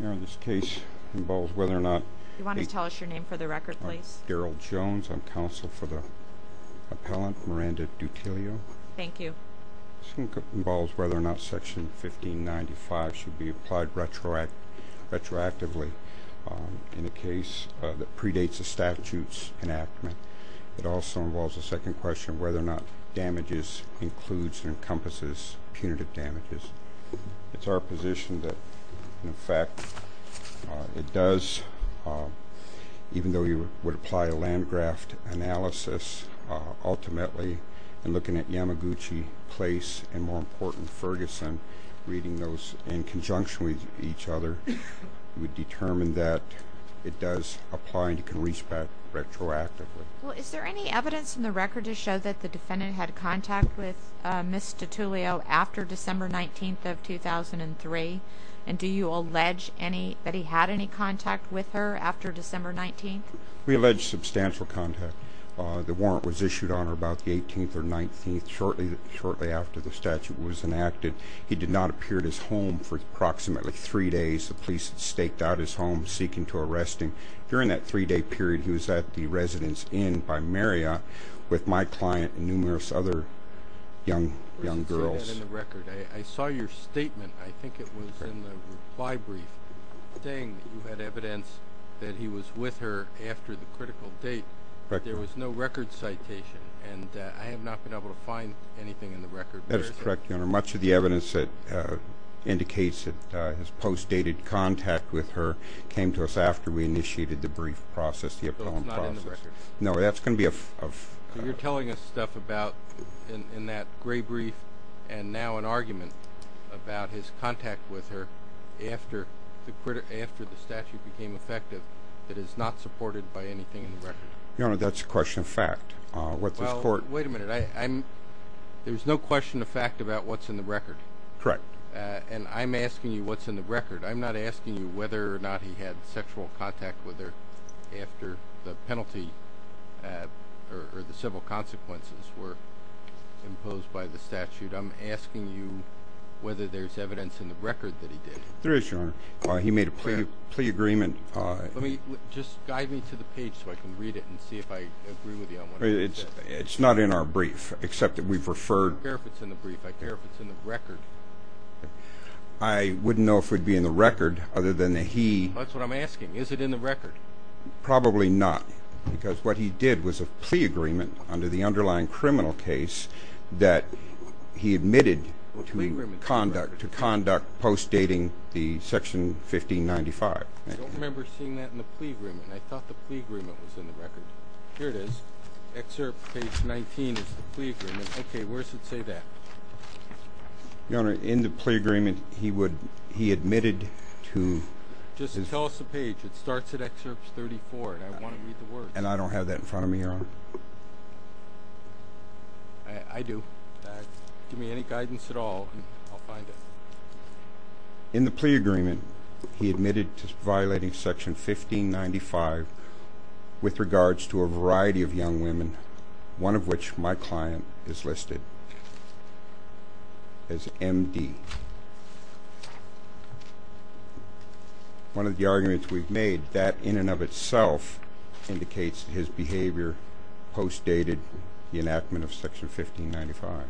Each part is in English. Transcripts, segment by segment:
You want to tell us your name for the record, please? Daryl Jones. I'm counsel for the appellant, Miranda Dutullio. Thank you. This case involves whether or not Section 1595 should be applied retroactively in a case that predates a statute's enactment. It also involves a second question, whether or not damages includes and encompasses punitive damages. It's our position that, in fact, it does. Even though you would apply a Landgraft analysis, ultimately, and looking at Yamaguchi Place and, more important, Ferguson, reading those in conjunction with each other, you would determine that it does apply and you can reach back retroactively. Is there any evidence in the record to show that the defendant had contact with Ms. Dutullio after December 19, 2003? And do you allege that he had any contact with her after December 19? We allege substantial contact. The warrant was issued on her about the 18th or 19th, shortly after the statute was enacted. He did not appear at his home for approximately three days. The police had staked out his home, seeking to arrest him. During that three-day period, he was at the Residence Inn by Marriott with my client and numerous other young girls. I saw that in the record. I saw your statement. I think it was in the reply brief, saying that you had evidence that he was with her after the critical date. There was no record citation, and I have not been able to find anything in the record. That is correct, Your Honor. Much of the evidence that indicates that his post-dated contact with her came to us after we initiated the brief process, the appellant process. So it's not in the record? No, that's going to be a- So you're telling us stuff about in that gray brief and now an argument about his contact with her after the statute became effective that is not supported by anything in the record? Your Honor, that's a question of fact. Well, wait a minute. There's no question of fact about what's in the record. Correct. And I'm asking you what's in the record. I'm not asking you whether or not he had sexual contact with her after the penalty or the civil consequences were imposed by the statute. I'm asking you whether there's evidence in the record that he did. There is, Your Honor. He made a plea agreement. Just guide me to the page so I can read it and see if I agree with you on what he said. It's not in our brief except that we've referred- I don't care if it's in the brief. I care if it's in the record. I wouldn't know if it would be in the record other than that he- That's what I'm asking. Is it in the record? Probably not because what he did was a plea agreement under the underlying criminal case that he admitted to conduct post-dating the Section 1595. I don't remember seeing that in the plea agreement. I thought the plea agreement was in the record. Here it is. Excerpt page 19 is the plea agreement. Okay, where does it say that? Your Honor, in the plea agreement, he admitted to- Just tell us the page. It starts at excerpt 34, and I want to read the words. And I don't have that in front of me, Your Honor. I do. Give me any guidance at all, and I'll find it. In the plea agreement, he admitted to violating Section 1595 with regards to a variety of young women, one of which my client is listed as M.D. One of the arguments we've made, that in and of itself indicates his behavior post-dated the enactment of Section 1595.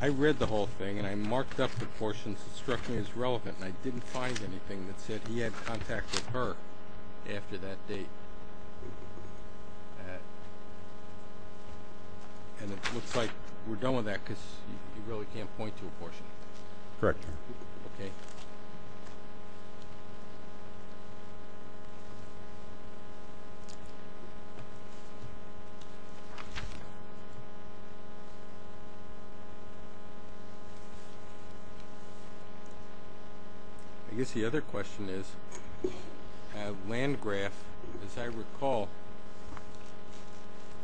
I read the whole thing, and I marked up the portions that struck me as relevant. And I didn't find anything that said he had contact with her after that date. And it looks like we're done with that because you really can't point to a portion. Correct, Your Honor. Okay. I guess the other question is, Landgraf, as I recall,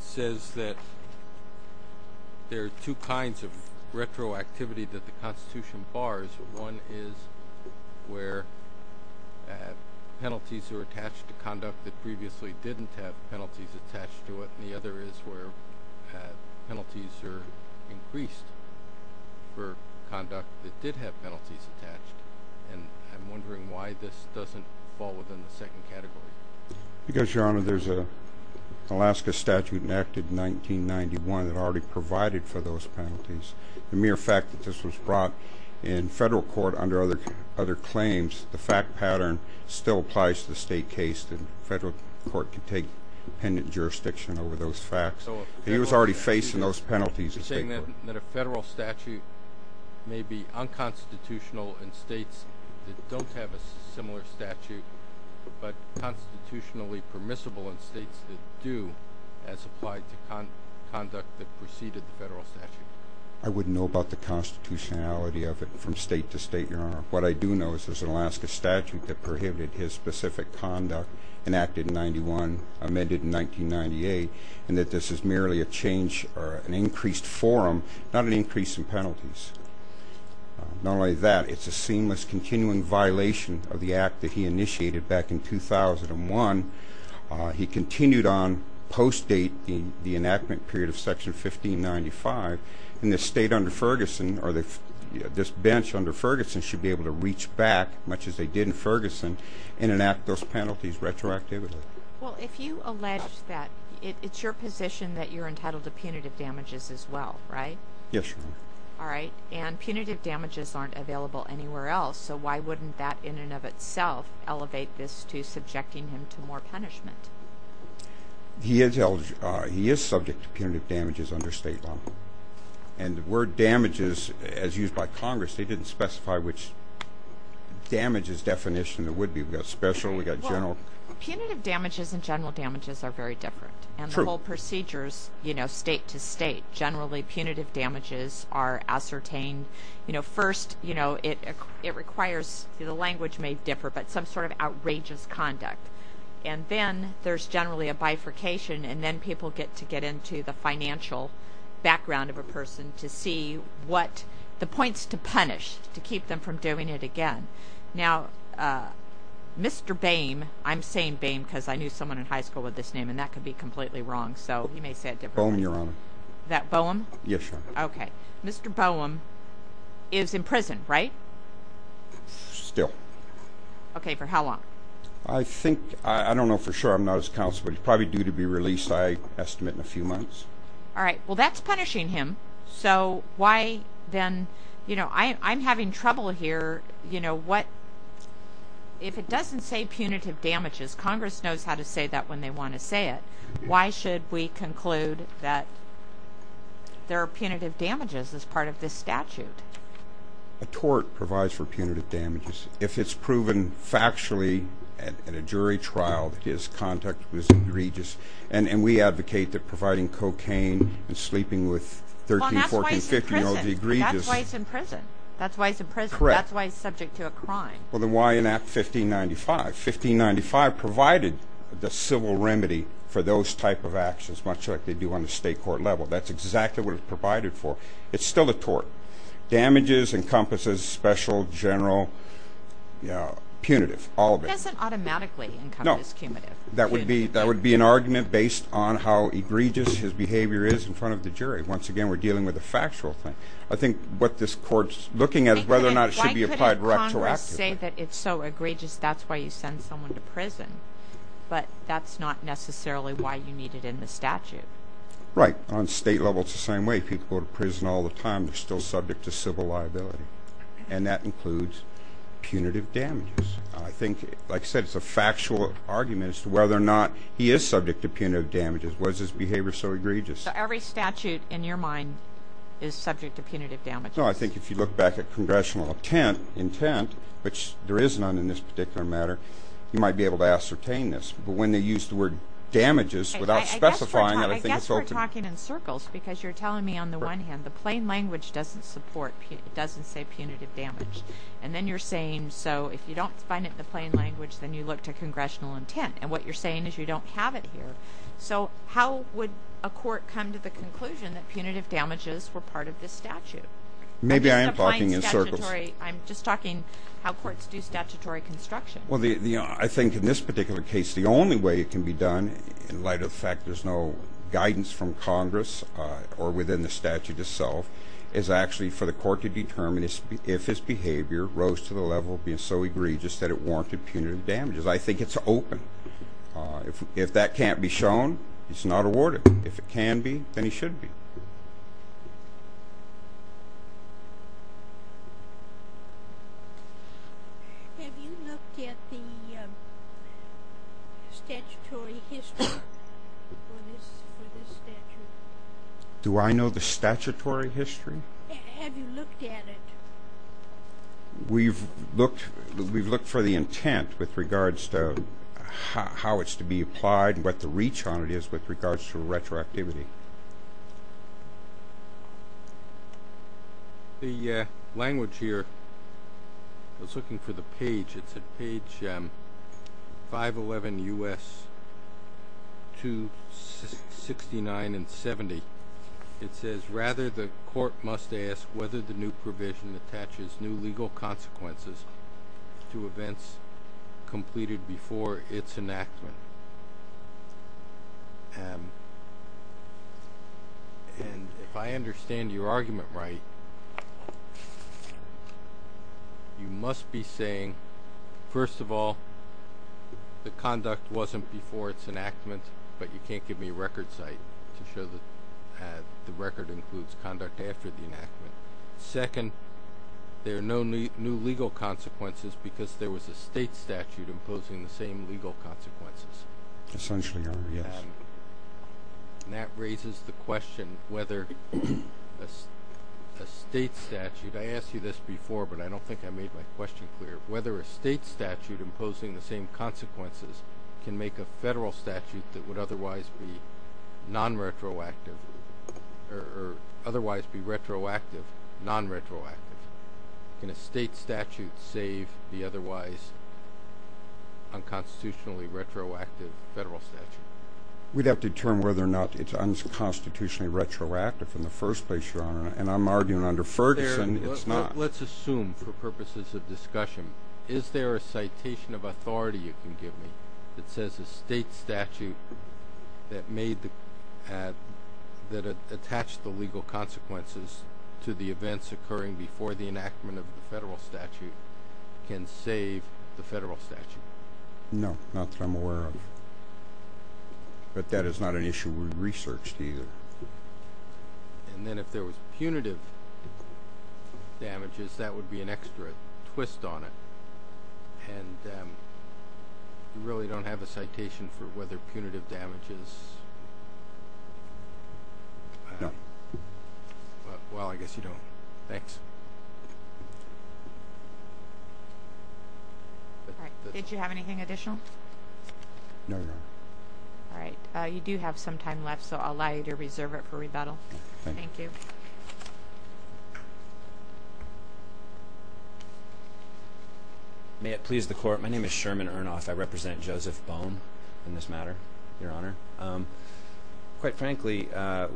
says that there are two kinds of retroactivity that the Constitution bars. One is where penalties are attached to conduct that previously didn't have penalties attached to it. And the other is where penalties are increased for conduct that did have penalties attached. And I'm wondering why this doesn't fall within the second category. Because, Your Honor, there's an Alaska statute enacted in 1991 that already provided for those penalties. The mere fact that this was brought in federal court under other claims, the fact pattern still applies to the state case, and federal court can take independent jurisdiction over those facts. He was already facing those penalties in state court. So you're saying that a federal statute may be unconstitutional in states that don't have a similar statute, but constitutionally permissible in states that do, as applied to conduct that preceded the federal statute? I wouldn't know about the constitutionality of it from state to state, Your Honor. What I do know is there's an Alaska statute that prohibited his specific conduct enacted in 1991, amended in 1998, and that this is merely a change or an increased forum, not an increase in penalties. Not only that, it's a seamless continuing violation of the act that he initiated back in 2001. He continued on post-date the enactment period of Section 1595, and the state under Ferguson or this bench under Ferguson should be able to reach back, much as they did in Ferguson, and enact those penalties retroactively. Well, if you allege that, it's your position that you're entitled to punitive damages as well, right? Yes, Your Honor. All right. And punitive damages aren't available anywhere else, so why wouldn't that in and of itself elevate this to subjecting him to more punishment? He is subject to punitive damages under state law. And the word damages, as used by Congress, they didn't specify which damages definition it would be. We've got special, we've got general. Well, punitive damages and general damages are very different. True. And the whole procedure is, you know, state to state. Generally, punitive damages are ascertained, you know, first, you know, it requires, the language may differ, but some sort of outrageous conduct. And then there's generally a bifurcation, and then people get to get into the financial background of a person to see what the points to punish, to keep them from doing it again. Now, Mr. Boehm, I'm saying Boehm because I knew someone in high school with this name, and that could be completely wrong, so you may say it differently. Boehm, Your Honor. That Boehm? Yes, Your Honor. Okay. Mr. Boehm is in prison, right? Still. Okay, for how long? I think, I don't know for sure. I'm not his counsel, but he's probably due to be released, I estimate, in a few months. All right. Well, that's punishing him, so why then, you know, I'm having trouble here, you know, what, if it doesn't say punitive damages, Congress knows how to say that when they want to say it, why should we conclude that there are punitive damages as part of this statute? A tort provides for punitive damages. If it's proven factually at a jury trial that his conduct was egregious, and we advocate that providing cocaine and sleeping with 13, 14, 15-year-olds is egregious. Well, that's why he's in prison. That's why he's in prison. That's why he's in prison. Correct. That's why he's subject to a crime. Well, then why enact 1595? 1595 provided the civil remedy for those type of actions, much like they do on the state court level. That's exactly what it's provided for. It's still a tort. Damages encompasses special, general, punitive, all of it. It doesn't automatically encompass punitive. No. That would be an argument based on how egregious his behavior is in front of the jury. Once again, we're dealing with a factual thing. I think what this court's looking at is whether or not it should be applied retroactively. Why couldn't Congress say that it's so egregious, that's why you send someone to prison, but that's not necessarily why you need it in the statute. Right. On state level, it's the same way. People go to prison all the time. They're still subject to civil liability, and that includes punitive damages. I think, like I said, it's a factual argument as to whether or not he is subject to punitive damages. Was his behavior so egregious? So every statute in your mind is subject to punitive damages? No. I think if you look back at congressional intent, which there is none in this particular matter, you might be able to ascertain this. You're talking in circles because you're telling me, on the one hand, the plain language doesn't support, it doesn't say punitive damage, and then you're saying, so if you don't find it in the plain language, then you look to congressional intent, and what you're saying is you don't have it here. So how would a court come to the conclusion that punitive damages were part of this statute? Maybe I am talking in circles. I'm just talking how courts do statutory construction. I think in this particular case, the only way it can be done, in light of the fact there's no guidance from Congress or within the statute itself, is actually for the court to determine if his behavior rose to the level of being so egregious that it warranted punitive damages. I think it's open. If that can't be shown, he's not awarded. If it can be, then he should be. Have you looked at the statutory history for this statute? Do I know the statutory history? Have you looked at it? We've looked for the intent with regards to how it's to be applied and what the reach on it is with regards to retroactivity. The language here, I was looking for the page. It's at page 511 U.S. 269 and 70. It says, rather the court must ask whether the new provision attaches new legal consequences to events completed before its enactment. If I understand your argument right, you must be saying, first of all, the conduct wasn't before its enactment, but you can't give me a record site to show that the record includes conduct after the enactment. Second, there are no new legal consequences because there was a state statute imposing the same legal consequences. Essentially, yes. That raises the question whether a state statute, I asked you this before, but I don't think I made my question clear, whether a state statute imposing the same consequences can make a federal statute that would otherwise be non-retroactive or otherwise be retroactive non-retroactive. Can a state statute save the otherwise unconstitutionally retroactive federal statute? We'd have to determine whether or not it's unconstitutionally retroactive in the first place, Your Honor, and I'm arguing under Ferguson it's not. Let's assume for purposes of discussion. Is there a citation of authority you can give me that says a state statute that attached the legal consequences to the events occurring before the enactment of the federal statute can save the federal statute? No, not that I'm aware of, but that is not an issue we've researched either. And then if there was punitive damages, that would be an extra twist on it. And you really don't have a citation for whether punitive damages? No. Well, I guess you don't. Thanks. Did you have anything additional? No, Your Honor. All right. You do have some time left, so I'll allow you to reserve it for rebuttal. Thank you. May it please the Court, my name is Sherman Earnoff. I represent Joseph Bone in this matter, Your Honor. Quite frankly,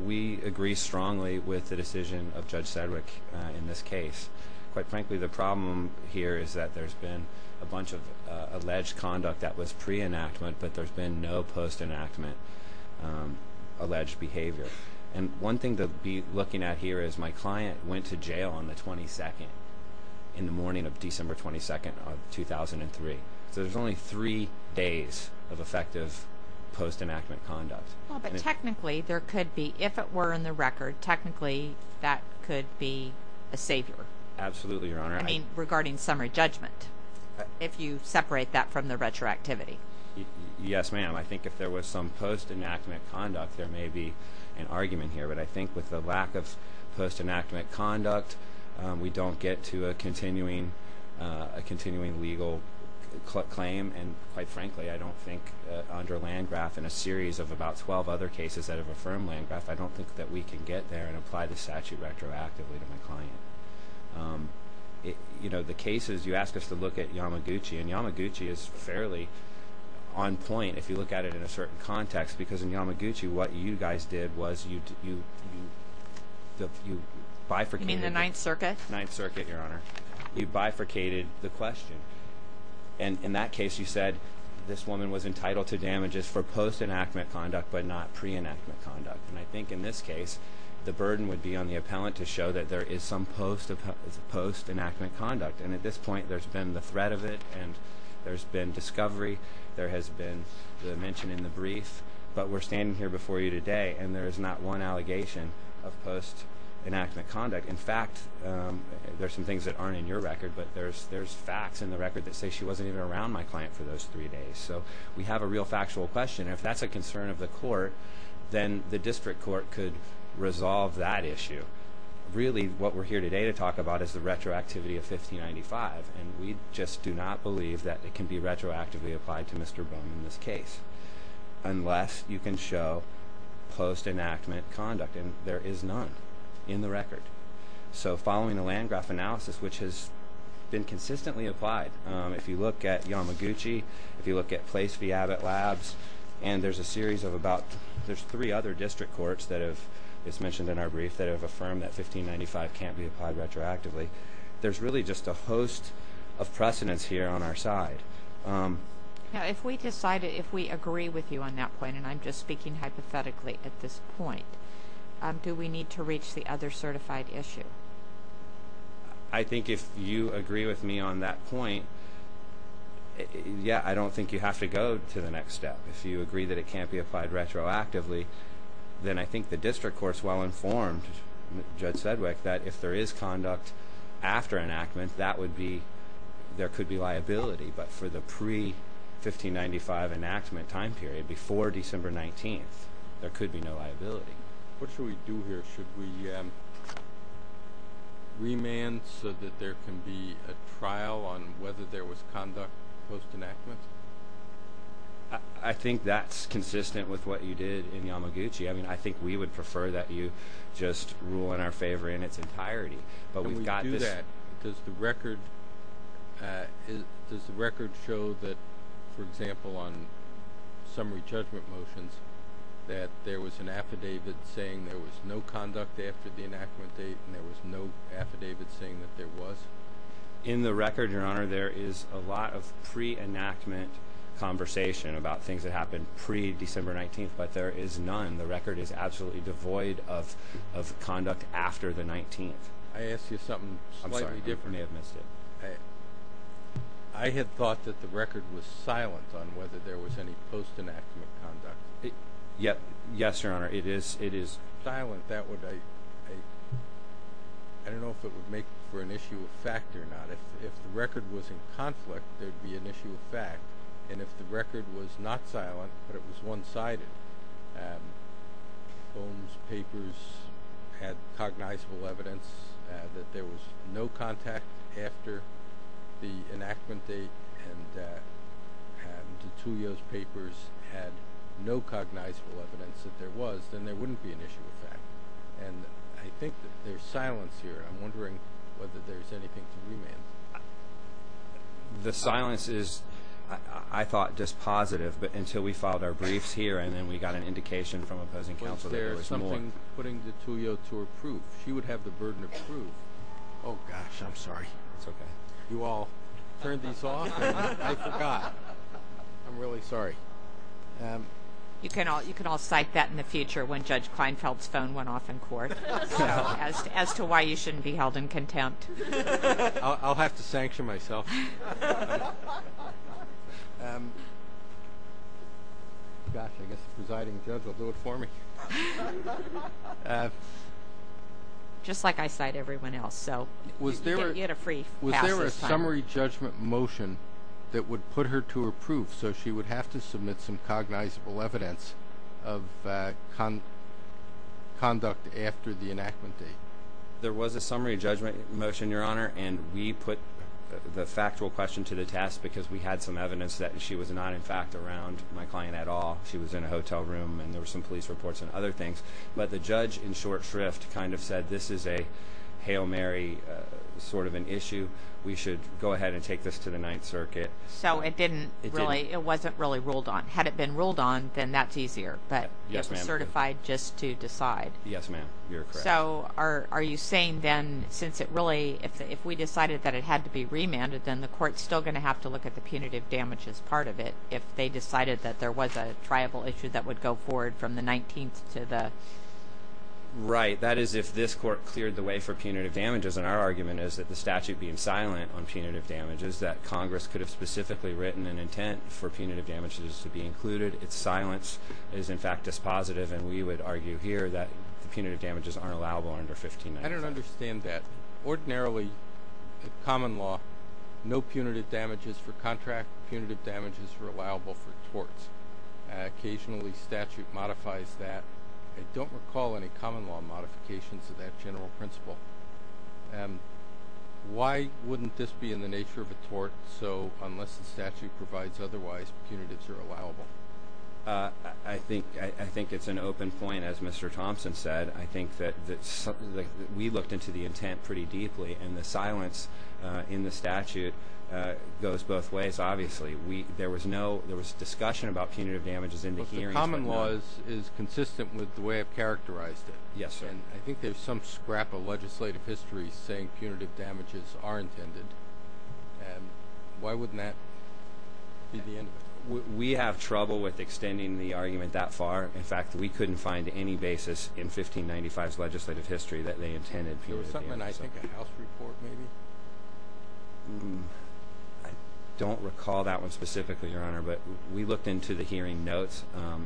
we agree strongly with the decision of Judge Sedgwick in this case. Quite frankly, the problem here is that there's been a bunch of alleged conduct that was pre-enactment, but there's been no post-enactment alleged behavior. And one thing to be looking at here is my client went to jail on the 22nd, in the morning of December 22nd of 2003. So there's only three days of effective post-enactment conduct. Well, but technically there could be, if it were in the record, Absolutely, Your Honor. I mean, regarding summary judgment, if you separate that from the retroactivity. Yes, ma'am. I think if there was some post-enactment conduct, there may be an argument here. But I think with the lack of post-enactment conduct, we don't get to a continuing legal claim. And quite frankly, I don't think under Landgraf and a series of about 12 other cases that have affirmed Landgraf, I don't think that we can get there and apply the statute retroactively to my client. You know, the cases, you asked us to look at Yamaguchi, and Yamaguchi is fairly on point, if you look at it in a certain context, because in Yamaguchi, what you guys did was you bifurcated You mean the Ninth Circuit? Ninth Circuit, Your Honor. You bifurcated the question. And in that case, you said this woman was entitled to damages for post-enactment conduct, but not pre-enactment conduct. And I think in this case, the burden would be on the appellant to show that there is some post-enactment conduct. And at this point, there's been the threat of it, and there's been discovery. There has been the mention in the brief. But we're standing here before you today, and there is not one allegation of post-enactment conduct. In fact, there's some things that aren't in your record, but there's facts in the record that say she wasn't even around my client for those three days. So we have a real factual question. And if that's a concern of the court, then the district court could resolve that issue. Really, what we're here today to talk about is the retroactivity of 1595, and we just do not believe that it can be retroactively applied to Mr. Boone in this case, unless you can show post-enactment conduct, and there is none in the record. So following the Landgraf analysis, which has been consistently applied, if you look at Yamaguchi, if you look at Place v. Abbott Labs, and there's a series of about three other district courts that have, as mentioned in our brief, that have affirmed that 1595 can't be applied retroactively. There's really just a host of precedents here on our side. If we agree with you on that point, and I'm just speaking hypothetically at this point, do we need to reach the other certified issue? I think if you agree with me on that point, yeah, I don't think you have to go to the next step. If you agree that it can't be applied retroactively, then I think the district court's well-informed, Judge Sedgwick, that if there is conduct after enactment, there could be liability. But for the pre-1595 enactment time period, before December 19th, there could be no liability. What should we do here? Should we remand so that there can be a trial on whether there was conduct post-enactment? I think that's consistent with what you did in Yamaguchi. I mean, I think we would prefer that you just rule in our favor in its entirety. Can we do that? Does the record show that, for example, on summary judgment motions, that there was an affidavit saying there was no conduct after the enactment date and there was no affidavit saying that there was? In the record, Your Honor, there is a lot of pre-enactment conversation about things that happened pre-December 19th, but there is none. The record is absolutely devoid of conduct after the 19th. I asked you something slightly different. I'm sorry. I may have missed it. I had thought that the record was silent on whether there was any post-enactment conduct. Yes, Your Honor, it is. Silent, I don't know if it would make for an issue of fact or not. If the record was in conflict, there would be an issue of fact, and if the record was not silent but it was one-sided, and Fohn's papers had cognizable evidence that there was no contact after the enactment date and DiTullio's papers had no cognizable evidence that there was, then there wouldn't be an issue of fact. And I think there's silence here. I'm wondering whether there's anything to remand. The silence is, I thought, just positive, but until we filed our briefs here and then we got an indication from opposing counsel that there was more. Was there something putting DiTullio to her proof? She would have the burden of proof. Oh, gosh, I'm sorry. It's okay. You all turned these off and I forgot. I'm really sorry. You can all cite that in the future when Judge Kleinfeld's phone went off in court as to why you shouldn't be held in contempt. I'll have to sanction myself. Gosh, I guess the presiding judge will do it for me. Just like I cite everyone else, so you get a free pass. Was there a summary judgment motion that would put her to her proof so she would have to submit some cognizable evidence of conduct after the enactment date? There was a summary judgment motion, Your Honor, and we put the factual question to the test because we had some evidence that she was not, in fact, around my client at all. She was in a hotel room and there were some police reports and other things. But the judge, in short shrift, kind of said this is a Hail Mary sort of an issue. We should go ahead and take this to the Ninth Circuit. So it wasn't really ruled on. Had it been ruled on, then that's easier, but it was certified just to decide. Yes, ma'am, you're correct. So are you saying then since it really, if we decided that it had to be remanded, then the court's still going to have to look at the punitive damage as part of it if they decided that there was a triable issue that would go forward from the 19th to the... Right, that is if this court cleared the way for punitive damages, and our argument is that the statute being silent on punitive damages, that Congress could have specifically written an intent for punitive damages to be included. Its silence is, in fact, dispositive, and we would argue here that the punitive damages aren't allowable under 15 minutes. I don't understand that. Ordinarily, common law, no punitive damages for contract. Punitive damages are allowable for torts. Occasionally statute modifies that. I don't recall any common law modifications of that general principle. Why wouldn't this be in the nature of a tort? So unless the statute provides otherwise, punitives are allowable. I think it's an open point, as Mr. Thompson said. I think that we looked into the intent pretty deeply, and the silence in the statute goes both ways, obviously. There was discussion about punitive damages in the hearings, but no... But the common law is consistent with the way I've characterized it. Yes, sir. I think there's some scrap of legislative history saying punitive damages are intended. Why wouldn't that be the end of it? We have trouble with extending the argument that far. In fact, we couldn't find any basis in 1595's legislative history that they intended punitive damages. There was something in, I think, a House report maybe. I don't recall that one specifically, Your Honor, but we looked into the hearing notes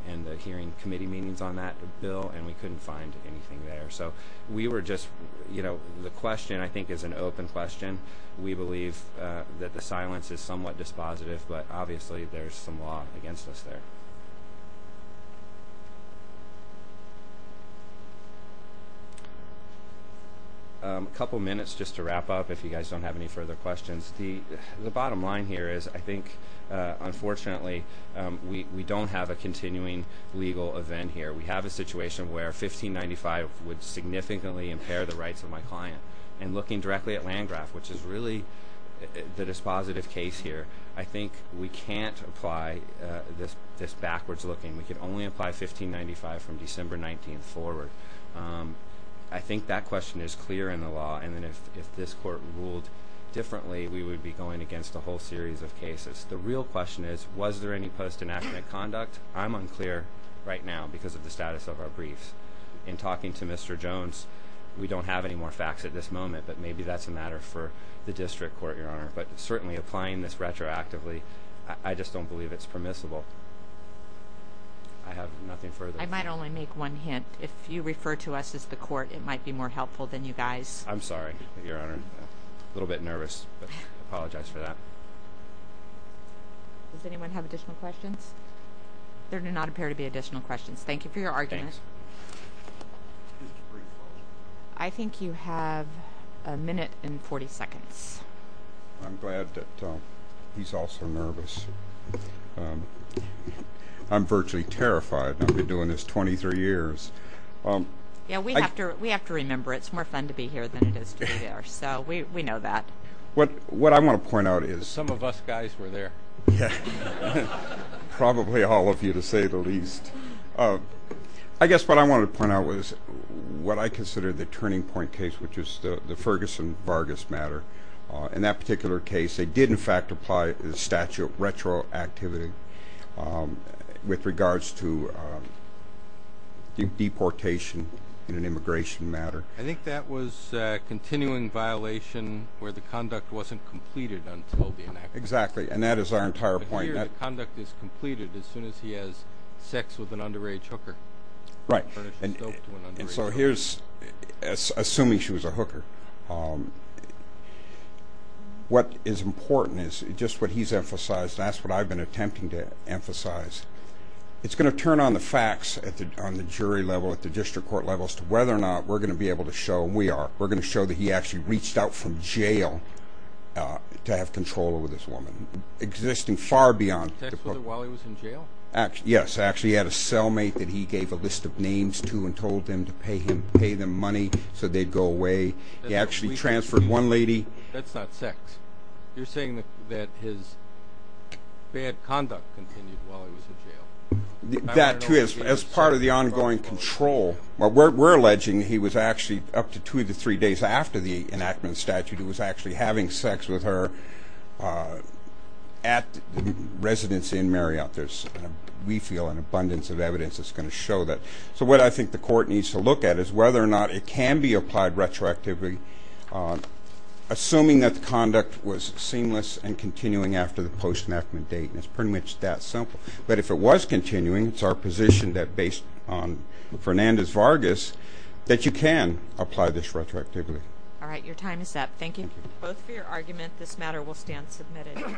and the hearing committee meetings on that bill, and we couldn't find anything there. So we were just, you know, the question, I think, is an open question. We believe that the silence is somewhat dispositive, but obviously there's some law against us there. A couple minutes just to wrap up, if you guys don't have any further questions. The bottom line here is I think, unfortunately, we don't have a continuing legal event here. We have a situation where 1595 would significantly impair the rights of my client. And looking directly at Landgraf, which is really the dispositive case here, I think we can't apply this backwards looking. We can only apply 1595 from December 19th forward. I think that question is clear in the law, and then if this court ruled differently, we would be going against a whole series of cases. The real question is, was there any post-inactionate conduct? I'm unclear right now because of the status of our briefs. In talking to Mr. Jones, we don't have any more facts at this moment, but maybe that's a matter for the district court, Your Honor. But certainly applying this retroactively, I just don't believe it's permissible. I have nothing further. I might only make one hint. If you refer to us as the court, it might be more helpful than you guys. I'm sorry, Your Honor. A little bit nervous, but I apologize for that. Does anyone have additional questions? There do not appear to be additional questions. Thank you for your argument. Thanks. I think you have a minute and 40 seconds. I'm glad that he's also nervous. I'm virtually terrified. I've been doing this 23 years. Yeah, we have to remember it's more fun to be here than it is to be there, so we know that. What I want to point out is – Some of us guys were there. Yeah, probably all of you, to say the least. I guess what I wanted to point out was what I consider the turning point case, which is the Ferguson-Vargas matter. In that particular case, they did, in fact, apply the statute retroactivity with regards to deportation in an immigration matter. I think that was a continuing violation where the conduct wasn't completed until the enactment. Exactly, and that is our entire point. Here, the conduct is completed as soon as he has sex with an underage hooker. Right. Assuming she was a hooker, what is important is just what he's emphasized, and that's what I've been attempting to emphasize. It's going to turn on the facts on the jury level, at the district court level, as to whether or not we're going to be able to show, and we are, we're going to show that he actually reached out from jail to have control over this woman, existing far beyond. Was it while he was in jail? Yes, actually he had a cellmate that he gave a list of names to and told them to pay him money so they'd go away. He actually transferred one lady. That's not sex. You're saying that his bad conduct continued while he was in jail. That, too, as part of the ongoing control, we're alleging he was actually up to two to three days after the enactment statute, he was actually having sex with her at the residency in Marriott. We feel an abundance of evidence is going to show that. So what I think the court needs to look at is whether or not it can be applied retroactively, assuming that the conduct was seamless and continuing after the post-enactment date, and it's pretty much that simple. But if it was continuing, it's our position that based on Fernandez-Vargas, that you can apply this retroactively. All right, your time is up. Thank you both for your argument. This matter will stand submitted.